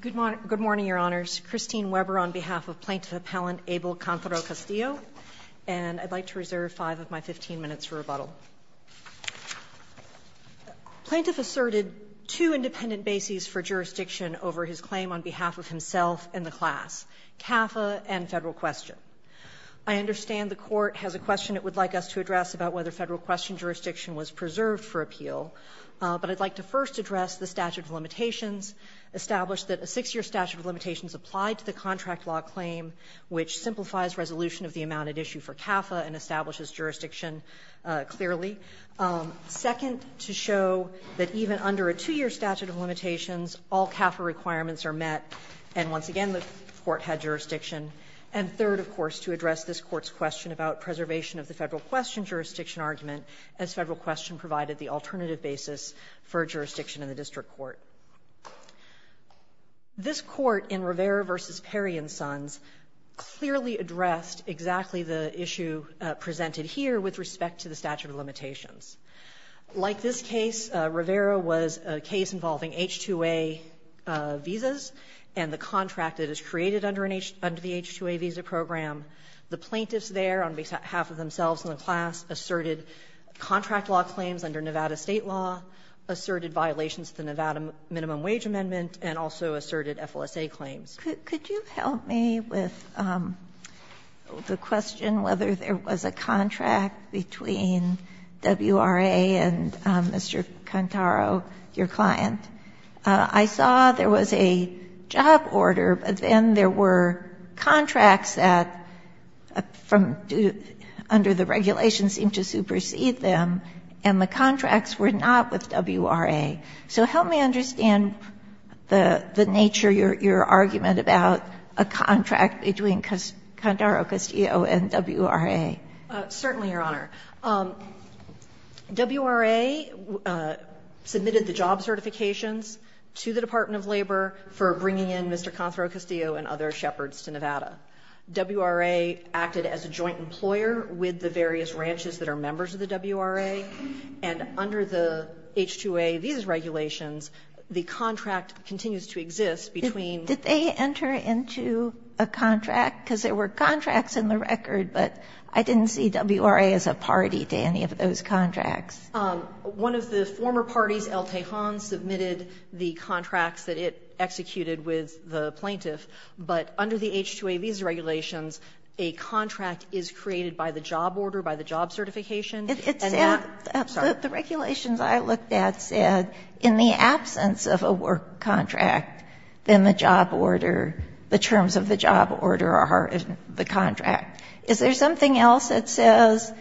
Good morning, Your Honors. Christine Weber on behalf of Plaintiff Appellant Abel Cantaro Castillo, and I'd like to reserve five of my 15 minutes for rebuttal. Plaintiff asserted two independent bases for jurisdiction over his claim on behalf of himself and the class, CAFA and Federal Question. I understand the Court has a question it would like us to address about whether Federal Question jurisdiction was preserved for appeal, but I'd like to first address the statute of limitations, establish that a six-year statute of limitations applied to the contract law claim, which simplifies resolution of the amount at issue for CAFA and establishes jurisdiction clearly. Second, to show that even under a two-year statute of limitations, all CAFA requirements are met, and once again the Court had jurisdiction. And third, of course, to address this Court's question about preservation of the Federal Question jurisdiction argument as Federal Question provided the alternative basis for jurisdiction in the district court. This Court in Rivera v. Perry v. Sons clearly addressed exactly the issue presented here with respect to the statute of limitations. Like this case, Rivera was a case involving H-2A visas and the contract that is created under an H — under the H-2A visa program. The plaintiffs there on behalf of themselves and the class asserted contract law claims under Nevada State law, asserted violations of the Nevada minimum wage amendment, and also asserted FLSA claims. Could you help me with the question whether there was a contract between WRA and Mr. Cantaro, your client? I saw there was a job order, but then there were contracts that from — under the regulations seemed to supersede them, and the contracts were not with WRA. So help me understand the nature, your argument about a contract between Cantaro, Castillo, and WRA. Certainly, Your Honor. WRA submitted the job certifications to the Department of Labor for bringing in Mr. Cantaro, Castillo, and other shepherds to Nevada. WRA acted as a joint employer with the various ranches that are members of the WRA, and under the H-2A visa regulations, the contract continues to exist between Did they enter into a contract? Because there were contracts in the record, but I didn't see WRA as a party to any of those contracts. One of the former parties, El Tejon, submitted the contracts that it executed with the plaintiff, but under the H-2A visa regulations, a contract is created by the job order, by the job certification. And that's the regulations I looked at said in the absence of a work contract, then the job order, the terms of the job order are in the contract. Is there something else that says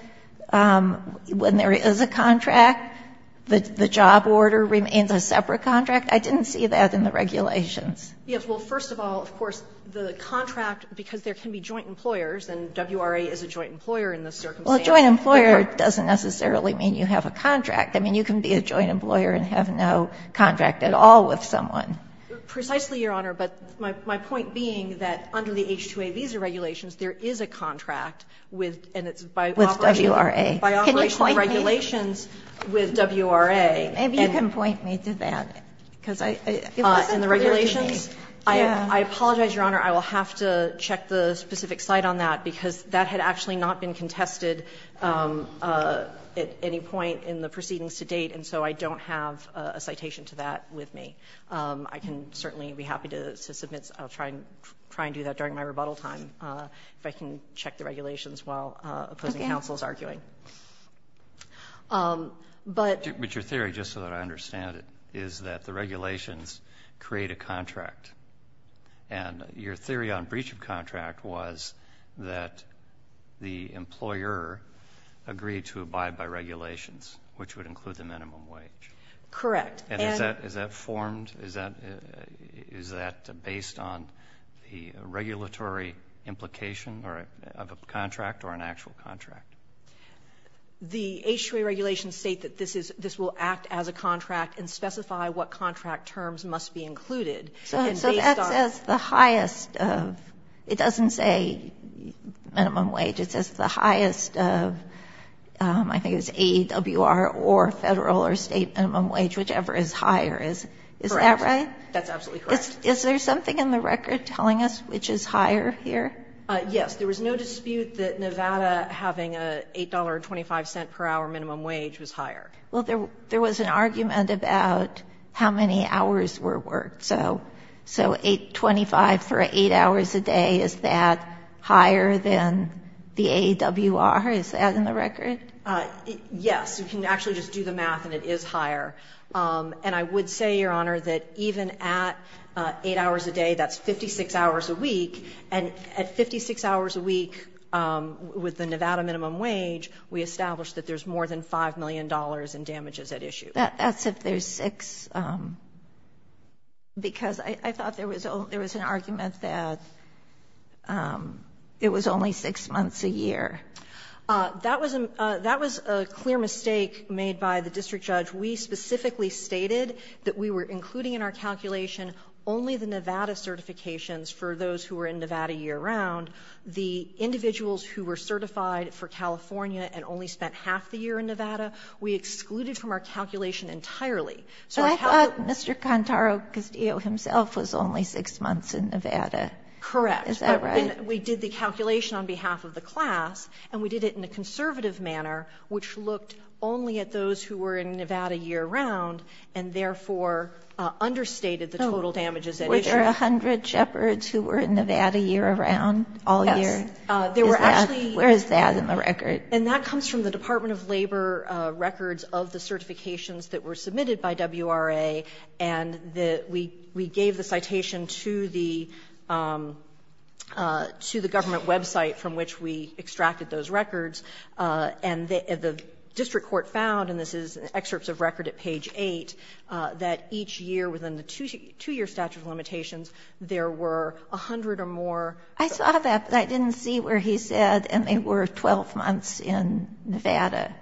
when there is a contract, the job order remains a separate contract? I didn't see that in the regulations. Yes. Well, first of all, of course, the contract, because there can be joint employers, and WRA is a joint employer in this circumstance. Well, a joint employer doesn't necessarily mean you have a contract. I mean, you can be a joint employer and have no contract at all with someone. Precisely, Your Honor, but my point being that under the H-2A visa regulations, there is a contract with, and it's by operation of regulations with WRA. Can you point me? Maybe you can point me to that. Because I, in the regulations, I apologize, Your Honor, I will have to check the specific site on that, because that had actually not been contested at any point in the proceedings to date, and so I don't have a citation to that with me. I can certainly be happy to submit. I'll try and do that during my rebuttal time, if I can check the regulations while opposing counsel is arguing. But your theory, just so that I understand it, is that the regulations create a contract, and your theory on breach of contract was that the employer agreed to abide by regulations, which would include the minimum wage. Correct. And is that formed, is that based on the regulatory implication of a contract or an actual contract? The H-2A regulations state that this will act as a contract and specify what contract terms must be included. So that says the highest of, it doesn't say minimum wage. It says the highest of, I think it was AEWR or Federal or State minimum wage, whichever is higher. Is that right? Correct. That's absolutely correct. Is there something in the record telling us which is higher here? Yes. There was no dispute that Nevada having an $8.25 per hour minimum wage was higher. Well, there was an argument about how many hours were worked. So 8.25 for 8 hours a day, is that higher than the AEWR? Is that in the record? Yes. You can actually just do the math and it is higher. And I would say, Your Honor, that even at 8 hours a day, that's 56 hours a week. And at 56 hours a week with the Nevada minimum wage, we establish that there's more than $5 million in damages at issue. That's if there's 6, because I thought there was an argument that it was only 6 months a year. That was a clear mistake made by the district judge. We specifically stated that we were including in our calculation only the Nevada certifications for those who were in Nevada year-round. The individuals who were certified for California and only spent half the year in Nevada, we excluded from our calculation entirely. So I thought Mr. Contaro Castillo himself was only 6 months in Nevada. Correct. Is that right? We did the calculation on behalf of the class, and we did it in a conservative manner, which looked only at those who were in Nevada year-round, and therefore understated the total damages at issue. Were there 100 shepherds who were in Nevada year-round, all year? Yes. There were actually — Where is that in the record? And that comes from the Department of Labor records of the certifications that were submitted by WRA, and we gave the citation to the government website from which we extracted those records, and the district court found, and this is excerpts of record at page 8, that each year within the 2-year statute of limitations, there were 100 or more. I saw that, but I didn't see where he said, and they were 12 months in Nevada.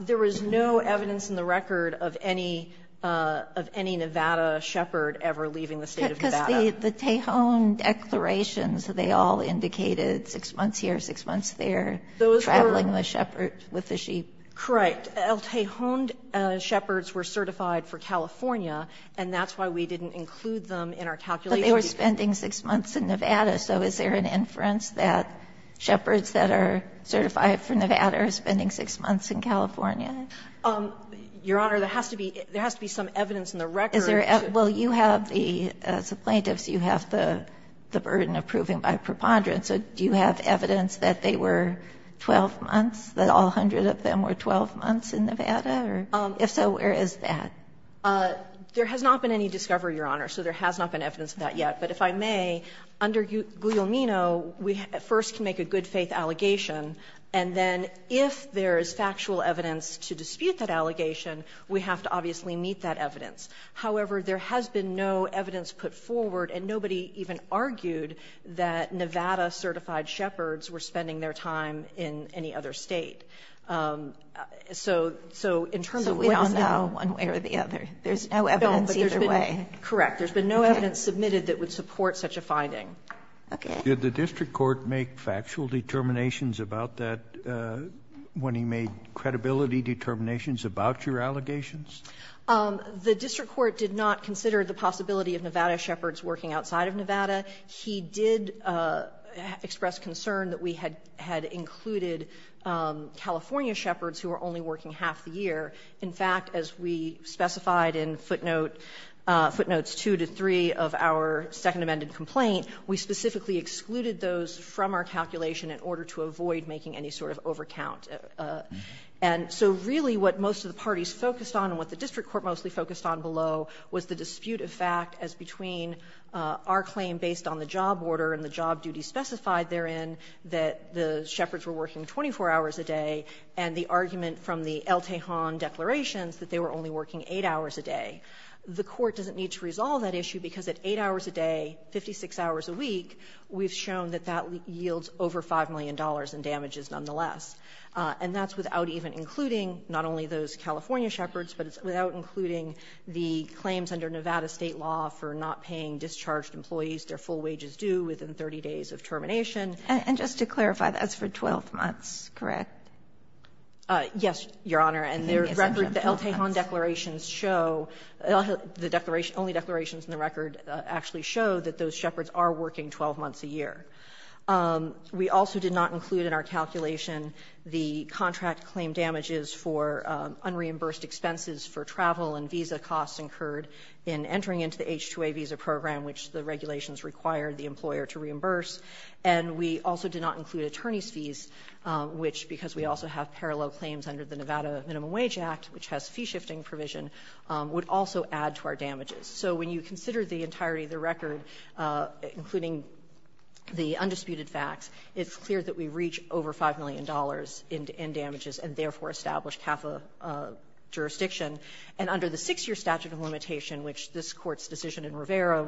There was no evidence in the record of any Nevada shepherd ever leaving the State of Nevada. The Tejon declarations, they all indicated 6 months here, 6 months there, traveling with shepherd, with the sheep. Correct. Tejon shepherds were certified for California, and that's why we didn't include them in our calculation. But they were spending 6 months in Nevada, so is there an inference that shepherds that are certified for Nevada are spending 6 months in California? Your Honor, there has to be some evidence in the record. Well, you have the, as a plaintiff, you have the burden of proving by preponderance. Do you have evidence that they were 12 months, that all 100 of them were 12 months in Nevada, or if so, where is that? There has not been any discovery, Your Honor, so there has not been evidence of that yet. But if I may, under Guglielmino, we first can make a good-faith allegation, and then if there is factual evidence to dispute that allegation, we have to obviously meet that evidence. However, there has been no evidence put forward, and nobody even argued that Nevada certified shepherds were spending their time in any other State. So in terms of what is now one way or the other, there is no evidence either way. Correct. There has been no evidence submitted that would support such a finding. Okay. Did the district court make factual determinations about that when he made credibility determinations about your allegations? The district court did not consider the possibility of Nevada shepherds working outside of Nevada. He did express concern that we had included California shepherds who were only working half the year. In fact, as we specified in footnotes 2 to 3 of our Second Amendment complaint, we specifically excluded those from our calculation in order to avoid making any sort of overcount. And so really what most of the parties focused on and what the district court mostly focused on below was the dispute of fact as between our claim based on the job order and the job duty specified therein that the shepherds were working 24 hours a day, and the argument from the El Tejon declarations that they were only working 8 hours a day. The Court doesn't need to resolve that issue because at 8 hours a day, 56 hours a week, we've shown that that yields over $5 million in damages nonetheless. And that's without even including not only those California shepherds, but it's without including the claims under Nevada State law for not paying discharged employees. Their full wage is due within 30 days of termination. And just to clarify, that's for 12 months, correct? Yes, Your Honor. And the record, the El Tejon declarations show, the declaration, only declarations in the record actually show that those shepherds are working 12 months a year. We also did not include in our calculation the contract claim damages for unreimbursed expenses for travel and visa costs incurred in entering into the H-2A visa program, which the regulations require the employer to reimburse. And we also did not include attorney's fees, which, because we also have parallel claims under the Nevada Minimum Wage Act, which has fee-shifting provision, would also add to our damages. So when you consider the entirety of the record, including the undisputed facts, it's clear that we reach over $5 million in damages and therefore establish CAFA jurisdiction. And under the six-year statute of limitation, which this Court's decision in Rivera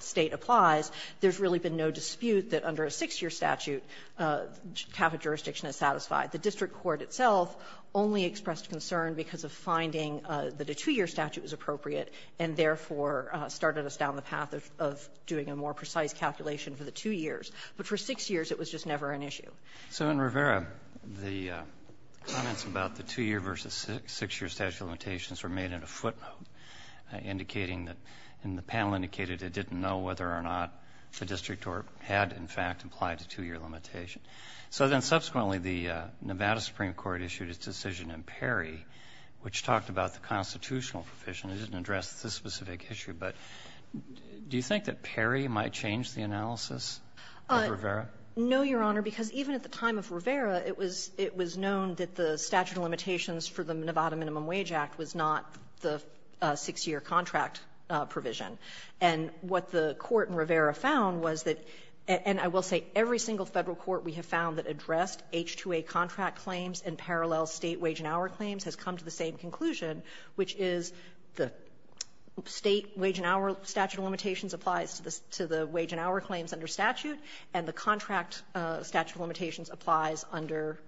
State applies, there's really been no dispute that under a six-year statute, CAFA jurisdiction is satisfied. The district court itself only expressed concern because of finding that a two-year statute was appropriate, and therefore started us down the path of doing a more precise calculation for the two years. But for six years, it was just never an issue. So in Rivera, the comments about the two-year versus six-year statute of limitations were made in a footnote, indicating that, and the panel indicated it didn't know whether or not the district court had in fact applied the two-year limitation. So then subsequently, the Nevada Supreme Court issued its decision in Perry, which talked about the constitutional provision. It didn't address this specific issue, but do you think that Perry might change the analysis of Rivera? No, Your Honor, because even at the time of Rivera, it was known that the statute of limitations for the Nevada Minimum Wage Act was not the six-year contract provision. And what the Court in Rivera found was that, and I will say every single Federal court we have found that addressed H-2A contract claims and parallel State wage and hour exclusion, which is the State wage and hour statute of limitations applies to the wage and hour claims under statute, and the contract statute of limitations applies under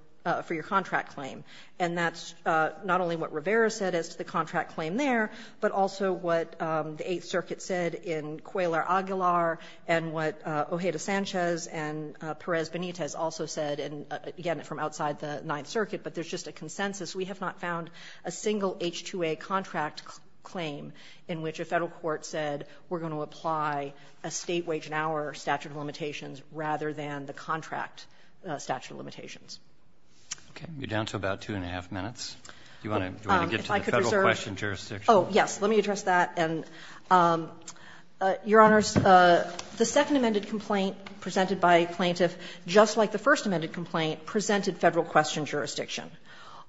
for your contract claim. And that's not only what Rivera said as to the contract claim there, but also what the Eighth Circuit said in Cuellar-Aguilar and what Ojeda-Sanchez and Perez-Benitez also said, and again, from outside the Ninth Circuit, but there's just a consensus. We have not found a single H-2A contract claim in which a Federal court said we're going to apply a State wage and hour statute of limitations rather than the contract statute of limitations. Okay. You're down to about two and a half minutes. Do you want to get to the Federal question jurisdiction? Oh, yes. Let me address that. And, Your Honors, the second amended complaint presented by a plaintiff, just like the first amended complaint, presented Federal question jurisdiction.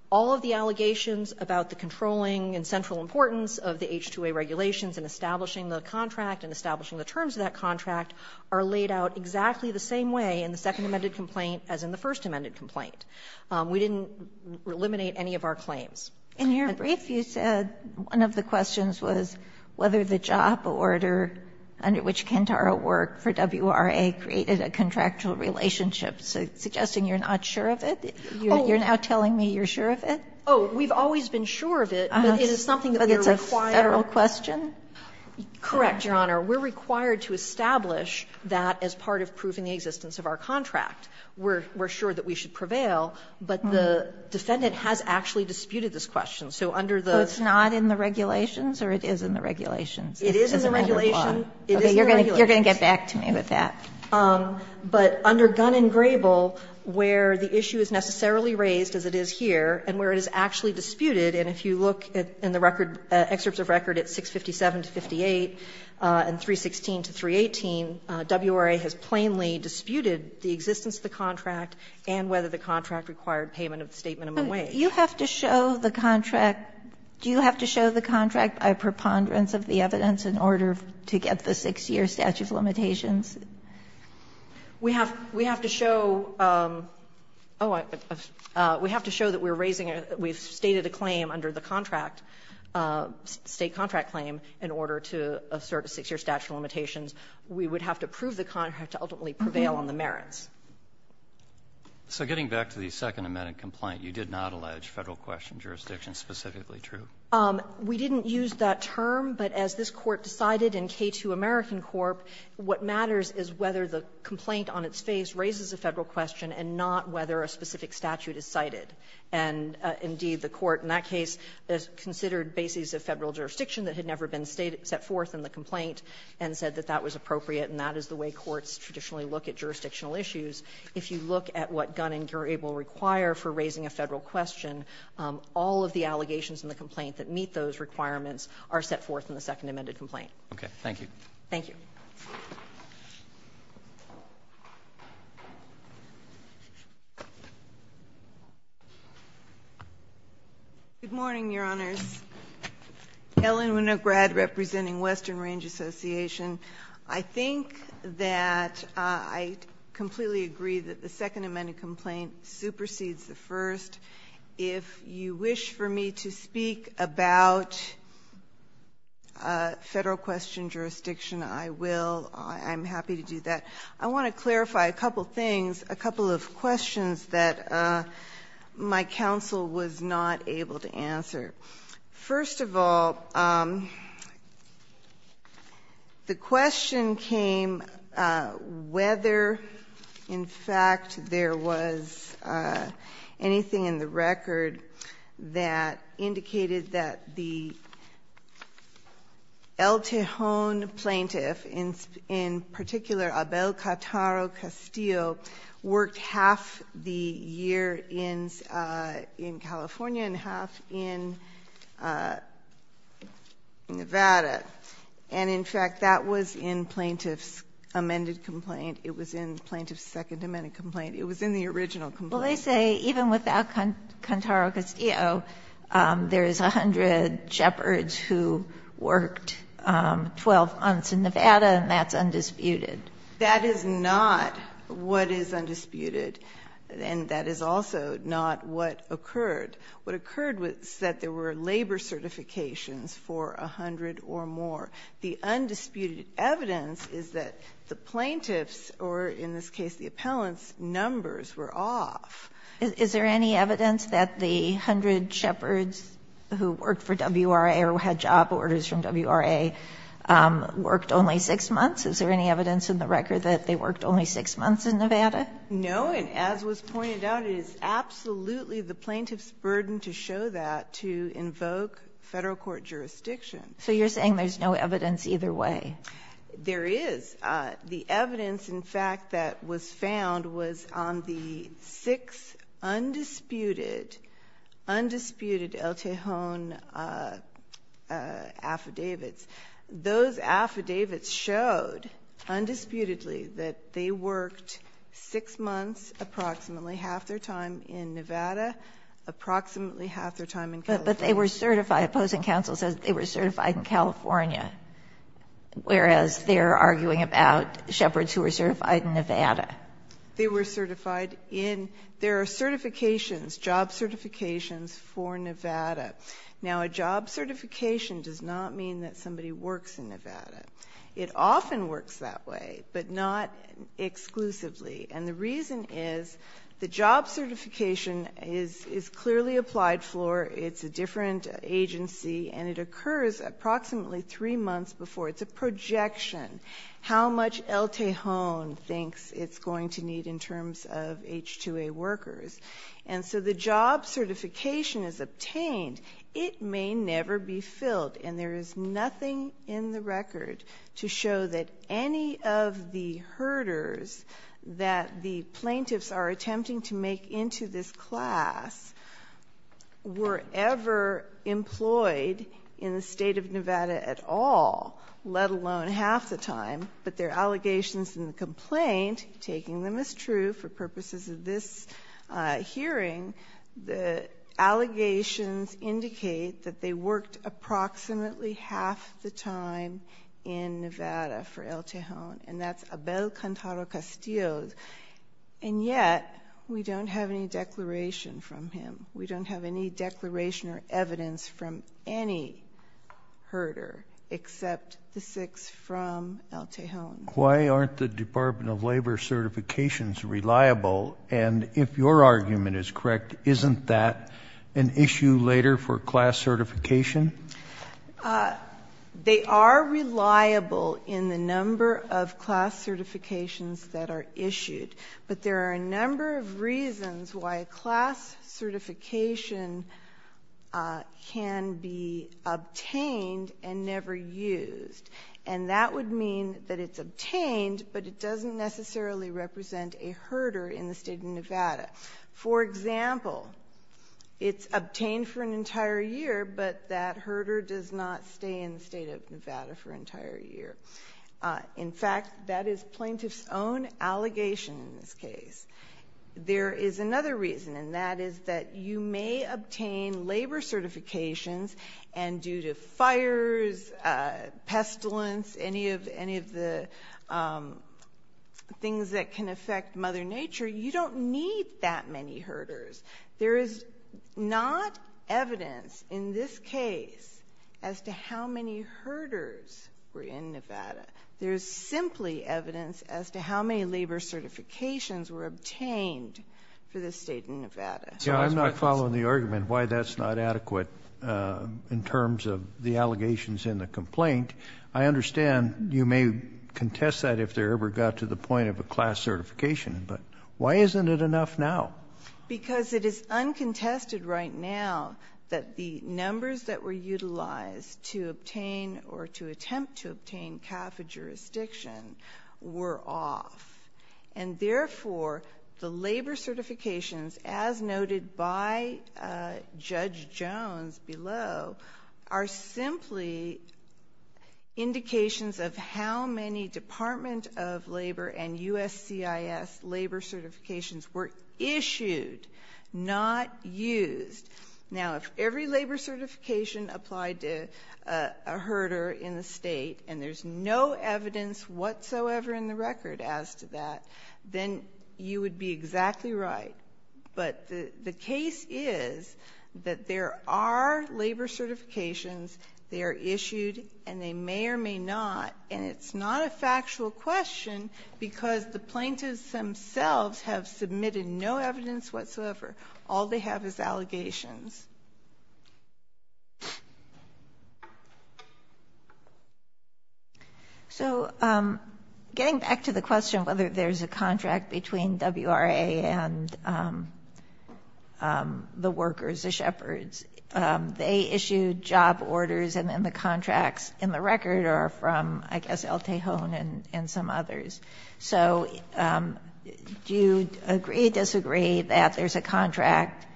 All of the allegations about the controlling and central importance of the H-2A regulations in establishing the contract and establishing the terms of that contract are laid out exactly the same way in the second amended complaint as in the first amended complaint. We didn't eliminate any of our claims. And your brief, you said one of the questions was whether the job order under which Quintaro worked for WRA created a contractual relationship, suggesting you're not sure of it. You're now telling me you're sure of it? Oh, we've always been sure of it, but it is something that we're required. But it's a Federal question? Correct, Your Honor. We're required to establish that as part of proving the existence of our contract. We're sure that we should prevail, but the defendant has actually disputed this question. So under the ---- So it's not in the regulations or it is in the regulations? It is in the regulations. It is in the regulations. Okay. You're going to get back to me with that. But under Gunn and Grable, where the issue is necessarily raised, as it is here, and where it is actually disputed, and if you look in the record, excerpts of record at 657 to 58 and 316 to 318, WRA has plainly disputed the existence of the contract and whether the contract required payment of the statement of a wage. But you have to show the contract. Do you have to show the contract by preponderance of the evidence in order to get the 6-year statute of limitations? We have to show we have to show that we're raising a we've stated a claim under the contract, State contract claim, in order to assert a 6-year statute of limitations. We would have to prove the contract to ultimately prevail on the merits. So getting back to the Second Amendment complaint, you did not allege Federal question jurisdiction specifically true? We didn't use that term, but as this Court decided in K2 American Corp., what matters is whether the complaint on its face raises a Federal question and not whether a specific statute is cited. And indeed, the Court in that case considered bases of Federal jurisdiction that had never been set forth in the complaint and said that that was appropriate, and that is the way courts traditionally look at jurisdictional issues. If you look at what Gunn and Gere will require for raising a Federal question, all of the allegations in the complaint that meet those requirements are set forth in the Second Amended complaint. Robertson, Thank you. Good morning, Your Honors. Ellen Winograd, representing Western Range Association. I think that I completely agree that the Second Amended complaint supersedes the first. If you wish for me to speak about Federal question jurisdiction, I will. I'm happy to do that. I want to clarify a couple of things, a couple of questions that my counsel was not able to answer. First of all, the question came whether, in fact, there was anything in the record that indicated that the El Tijon plaintiff, in particular Abel Cattaro Castillo, worked half the year in California and half in Nevada. And, in fact, that was in plaintiff's amended complaint. It was in plaintiff's Second Amended complaint. It was in the original complaint. Well, they say even without Cattaro Castillo, there is 100 shepherds who worked 12 months in Nevada, and that's undisputed. That is not what is undisputed, and that is also not what occurred. What occurred was that there were labor certifications for 100 or more. The undisputed evidence is that the plaintiffs, or in this case the appellants, numbers were off. Is there any evidence that the 100 shepherds who worked for WRA or who had job orders from WRA worked only 6 months? Is there any evidence in the record that they worked only 6 months in Nevada? No, and as was pointed out, it is absolutely the plaintiff's burden to show that to invoke Federal court jurisdiction. So you're saying there's no evidence either way? There is. The evidence, in fact, that was found was on the 6 undisputed El Tijon affidavits. Those affidavits showed undisputedly that they worked 6 months approximately, half their time in Nevada, approximately half their time in California. But they were certified. Opposing counsel says they were certified in California, whereas they're arguing about shepherds who were certified in Nevada. They were certified in there are certifications, job certifications for Nevada. Now, a job certification does not mean that somebody works in Nevada. It often works that way, but not exclusively. And the reason is the job certification is clearly applied for. It's a different agency, and it occurs approximately 3 months before. It's a projection, how much El Tijon thinks it's going to need in terms of H-2A workers. And so the job certification is obtained. It may never be filled, and there is nothing in the record to show that any of the herders that the plaintiffs are attempting to make into this class were ever employed in the state of Nevada at all, let alone half the time. But their allegations in the complaint, taking them as true for purposes of this hearing, the allegations indicate that they worked approximately half the time in Nevada for El Tijon. And that's Abel Cantaro Castillo. And yet, we don't have any declaration from him. We don't have any declaration or evidence from any herder, except the six from El Tijon. Why aren't the Department of Labor certifications reliable? And if your argument is correct, isn't that an issue later for class certification? They are reliable in the number of class certifications that are issued. But there are a number of reasons why a class certification can be obtained and never used. And that would mean that it's obtained, but it doesn't necessarily represent a herder in the state of Nevada. For example, it's obtained for an entire year, but that herder does not stay in the state of Nevada for an entire year. In fact, that is plaintiff's own allegation in this case. There is another reason, and that is that you may obtain labor certifications and due to fires, pestilence, any of the things that can affect Mother Nature, you don't need that many herders. There is not evidence in this case as to how many herders were in Nevada. There's simply evidence as to how many labor certifications were obtained for the state of Nevada. So that's why it's- Yeah, I'm not following the argument why that's not adequate in terms of the allegations in the complaint. I understand you may contest that if there ever got to the point of a class certification, but why isn't it enough now? Because it is uncontested right now that the numbers that were utilized to obtain or to attempt to obtain CAFA jurisdiction were off. And therefore, the labor certifications, as noted by Judge Jones below, are simply indications of how many Department of Labor and USCIS labor certifications were issued, not used. Now, if every labor certification applied to a herder in the state and there's no evidence whatsoever in the record as to that, then you would be exactly right. But the case is that there are labor certifications. They are issued and they may or may not, and it's not a factual question because the plaintiffs themselves have submitted no evidence whatsoever. All they have is allegations. So getting back to the question of whether there's a contract between WRA and the workers, the shepherds, they issued job orders and then the contracts in the record are from, I guess, El Tejon and some others. So do you agree, disagree that there's a contract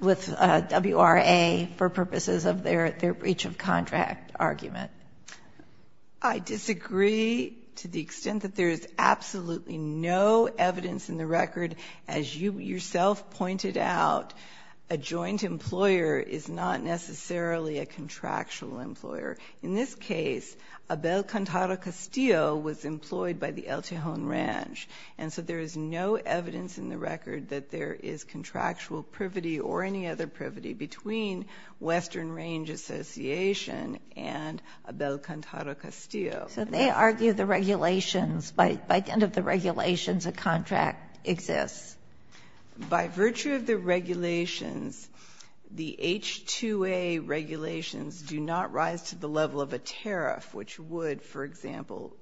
with WRA for purposes of their breach of contract argument? I disagree to the extent that there is absolutely no evidence in the record. As you yourself pointed out, a joint employer is not necessarily a contractual employer. In this case, Abel Cantaro Castillo was employed by the El Tejon Ranch. And so there is no evidence in the record that there is contractual privity or any other privity between Western Range Association and Abel Cantaro Castillo. So they argue the regulations, by the end of the regulations, a contract exists. By virtue of the regulations, the H-2A regulations do not rise to the level of a tariff, which would, for example,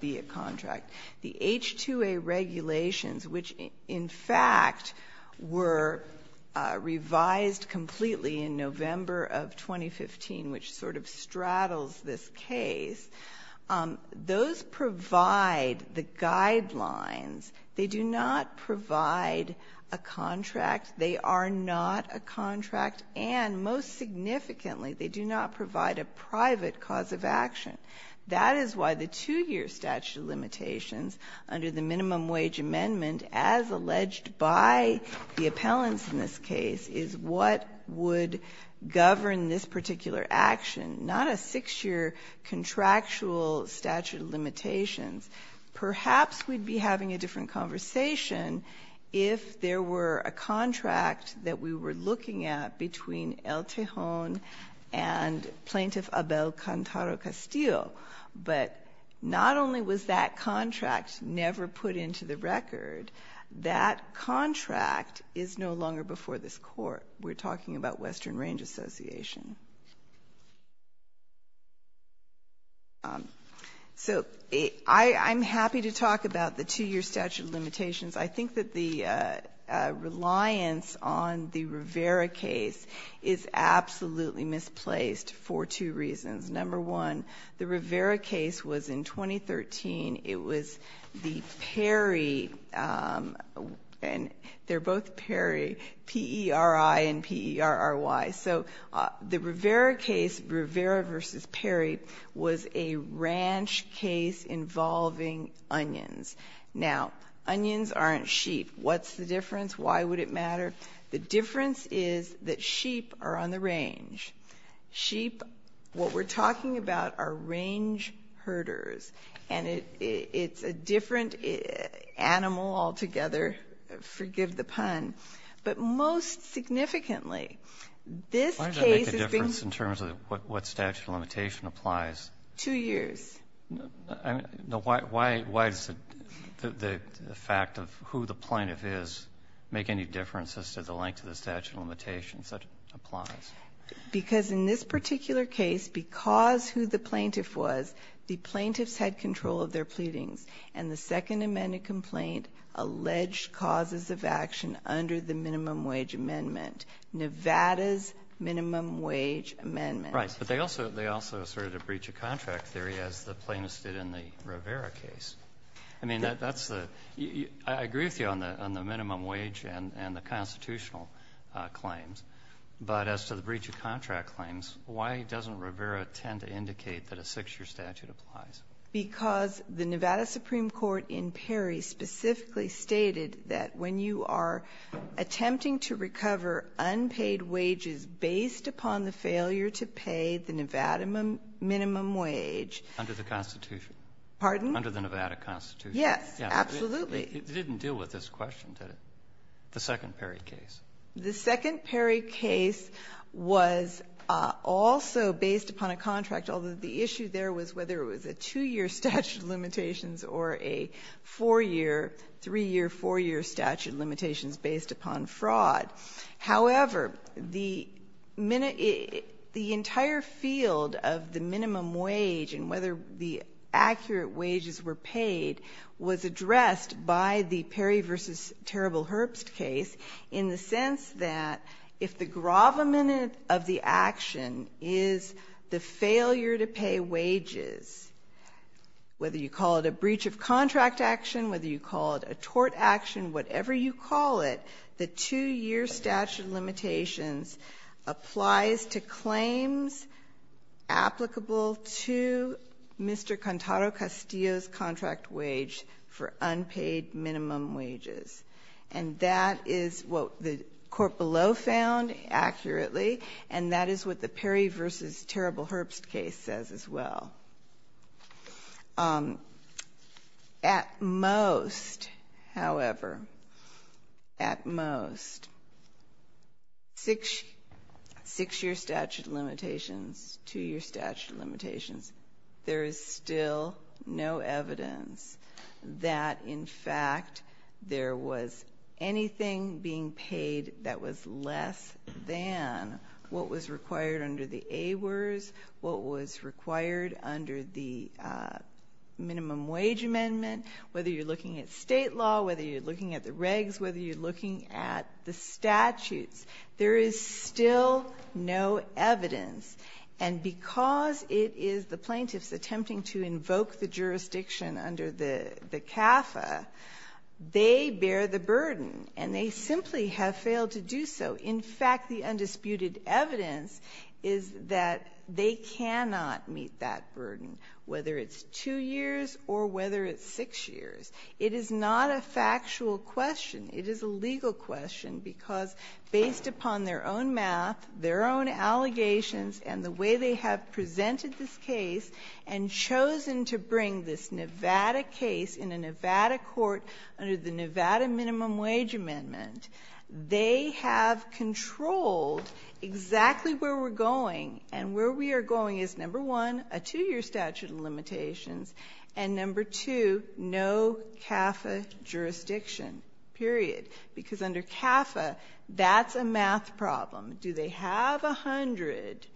be a contract. The H-2A regulations, which in fact were revised completely in November of 2015, which sort of straddles this case. Those provide the guidelines. They do not provide a contract. They are not a contract. And most significantly, they do not provide a private cause of action. That is why the two-year statute of limitations under the minimum wage amendment, as alleged by the appellants in this case, is what would govern this particular action, not a six-year contractual statute of limitations. Perhaps we'd be having a different conversation if there were a contract that we were looking at between El Tejon and Plaintiff Abel Cantaro Castillo. But not only was that contract never put into the record, that contract is no longer before this court. We're talking about Western Range Association. So I'm happy to talk about the two-year statute of limitations. I think that the reliance on the Rivera case is absolutely misplaced for two reasons. Number one, the Rivera case was in 2013. It was the Perry, and they're both Perry, P-E-R-I and P-E-R-R-Y. So the Rivera case, Rivera versus Perry, was a ranch case involving onions. Now, onions aren't sheep. What's the difference? Why would it matter? The difference is that sheep are on the range. Sheep, what we're talking about, are range herders. And it's a different animal altogether. But most significantly, this case is being --. Roberts, in terms of what statute of limitation applies. Two years. No, why does the fact of who the plaintiff is make any difference as to the length of the statute of limitations that it applies? Because in this particular case, because who the plaintiff was, the plaintiffs had control of their pleadings. And the second amended complaint alleged causes of action under the minimum wage amendment. Nevada's minimum wage amendment. Right, but they also asserted a breach of contract theory as the plaintiffs did in the Rivera case. I mean, I agree with you on the minimum wage and the constitutional claims. But as to the breach of contract claims, why doesn't Rivera tend to indicate that a six year statute applies? Because the Nevada Supreme Court in Perry specifically stated that when you are attempting to recover unpaid wages based upon the failure to pay the Nevada minimum wage. Under the Constitution. Pardon? Under the Nevada Constitution. Yes, absolutely. It didn't deal with this question, did it? The second Perry case. The second Perry case was also based upon a contract, although the issue there was whether it was a two year statute of limitations or a four year, three year, four year statute of limitations based upon fraud. However, the entire field of the minimum wage and whether the accurate wages were paid was addressed by the Perry v. Terrible Herbst case in the sense that if the gravamen of the action is the failure to pay wages, whether you call it a breach of contract action, whether you call it a tort action, whatever you call it, the two year statute of limitations applies to claims applicable to Mr. Cantaro-Castillo's contract wage for unpaid minimum wages. And that is what the court below found accurately, and that is what the Perry v. Terrible Herbst case says as well. At most, however, at most, six year statute of limitations, two year statute of limitations, there is still no evidence that in fact there was anything being paid that was less than what was required under the AWERS, what was required under the minimum wage amendment, whether you're looking at state law, whether you're looking at the regs, whether you're looking at the statutes. There is still no evidence. And because it is the plaintiffs attempting to invoke the jurisdiction under the CAFA, they bear the burden, and they simply have failed to do so. In fact, the undisputed evidence is that they cannot meet that burden, whether it's two years or whether it's six years. It is not a factual question, it is a legal question because based upon their own math, their own allegations, and the way they have presented this case and chosen to bring this Nevada case in a Nevada court under the Nevada minimum wage amendment. They have controlled exactly where we're going, and where we are going is number one, a two year statute of limitations, and number two, no CAFA jurisdiction, period. Because under CAFA, that's a math problem. Do they have 100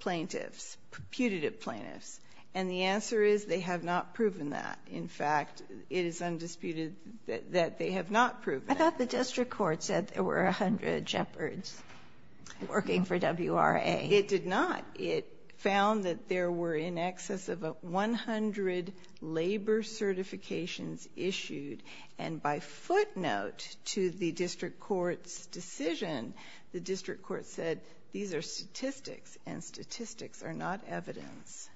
plaintiffs, putative plaintiffs? And the answer is they have not proven that. In fact, it is undisputed that they have not proven it. I thought the district court said there were 100 Jeopards working for WRA. It did not. It found that there were in excess of 100 labor certifications issued. And by footnote to the district court's decision, the district court said these are statistics, and statistics are not evidence.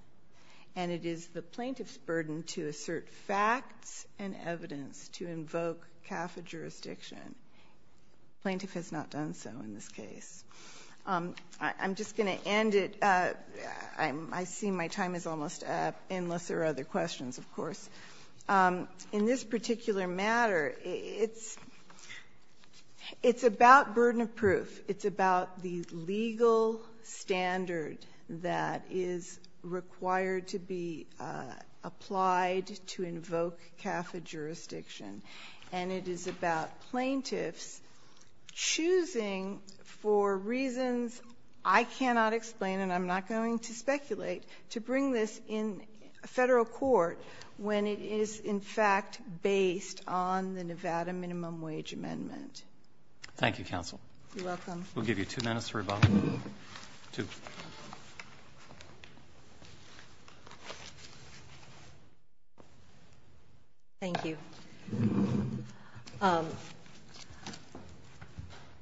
And it is the plaintiff's burden to assert facts and evidence to invoke CAFA jurisdiction. Plaintiff has not done so in this case. I'm just going to end it. I see my time is almost up, unless there are other questions, of course. In this particular matter, it's about burden of proof. It's about the legal standard that is required to be applied to invoke CAFA jurisdiction. And it is about plaintiffs choosing for reasons I cannot explain, and I'm not going to speculate, to bring this in Federal court when it is, in fact, based on the Nevada Minimum Wage Amendment. Thank you, counsel. You're welcome. We'll give you two minutes for rebuttal. Two. Thank you.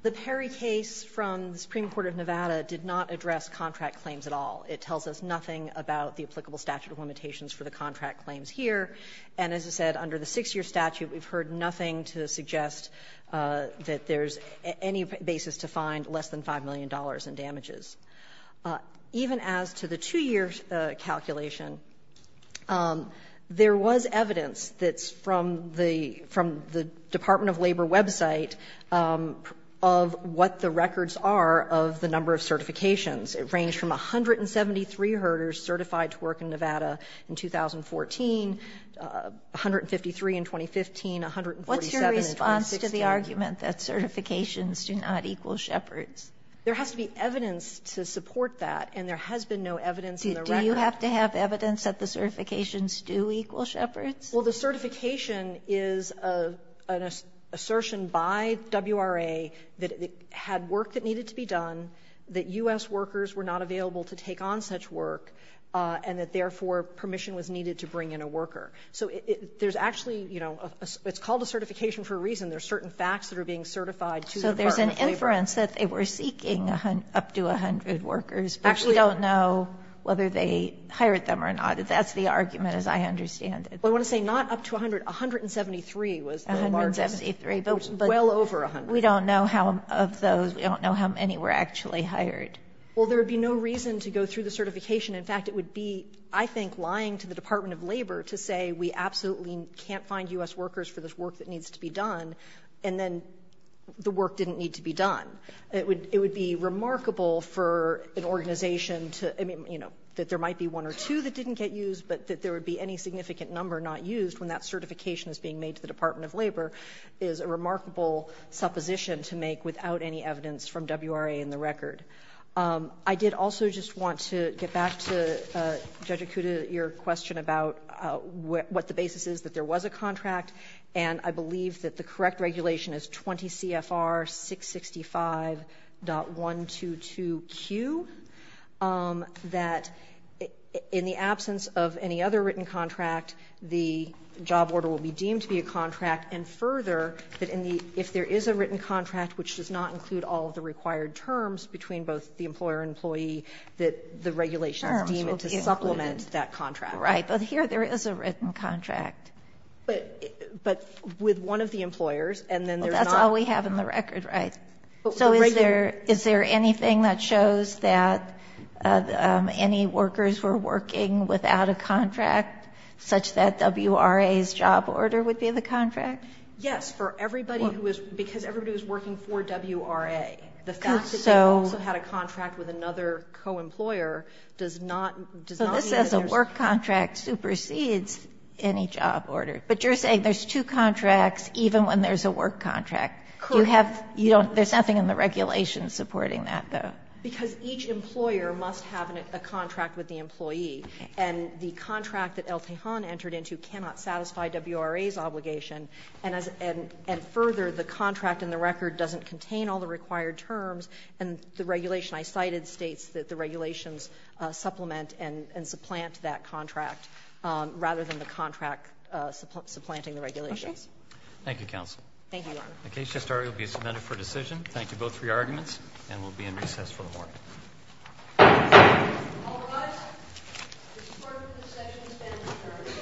The Perry case from the Supreme Court of Nevada did not address contractual claims at all. It tells us nothing about the applicable statute of limitations for the contract claims here. And as I said, under the 6-year statute, we've heard nothing to suggest that there's any basis to find less than $5 million in damages. Even as to the 2-year calculation, there was evidence that's from the Department of Labor website of what the records are of the number of certifications. It ranged from 173 herders certified to work in Nevada in 2014, 153 in 2015, 147 in 2016. What's your response to the argument that certifications do not equal Shepard's? There has to be evidence to support that, and there has been no evidence in the record. Do you have to have evidence that the certifications do equal Shepard's? Well, the certification is an assertion by WRA that it had work that needed to be done, that U.S. workers were not available to take on such work, and that, therefore, permission was needed to bring in a worker. So there's actually, you know, it's called a certification for a reason. There are certain facts that are being certified to the Department of Labor. So there's an inference that they were seeking up to 100 workers, but we don't know whether they hired them or not. That's the argument, as I understand it. Well, I want to say not up to 100. 173 was the remarks. 173, but we don't know how many of those, we don't know how many were actually hired. Well, there would be no reason to go through the certification. In fact, it would be, I think, lying to the Department of Labor to say we absolutely can't find U.S. workers for this work that needs to be done, and then the work didn't need to be done. It would be remarkable for an organization to, I mean, you know, that there might be one or two that didn't get used, but that there would be any significant number not used when that certification is being made to the Department of Labor is a remarkable supposition to make without any evidence from WRA and the record. I did also just want to get back to, Judge Akuta, your question about what the basis is that there was a contract, and I believe that the correct regulation is 20 CFR 665.122Q, that in the absence of any other written contract, the job order will be further, that if there is a written contract which does not include all of the required terms between both the employer and employee, that the regulations deem it to supplement that contract. Right. But here there is a written contract. But with one of the employers, and then there's not – That's all we have in the record, right? So is there anything that shows that any workers were working without a contract such that WRA's job order would be the contract? Yes, for everybody who is – because everybody who is working for WRA, the fact that they also had a contract with another co-employer does not mean that there's So this says a work contract supersedes any job order, but you're saying there's two contracts even when there's a work contract. You have – you don't – there's nothing in the regulations supporting that, though. Because each employer must have a contract with the employee, and the contract that El Tejan entered into cannot satisfy WRA's obligation. And as – and further, the contract in the record doesn't contain all the required terms, and the regulation I cited states that the regulations supplement and supplant that contract rather than the contract supplanting the regulations. Okay. Thank you, counsel. Thank you, Your Honor. The case to start will be submitted for decision. Thank you both for your arguments, and we'll be in recess for the morning. All rise. The court in this session is adjourned.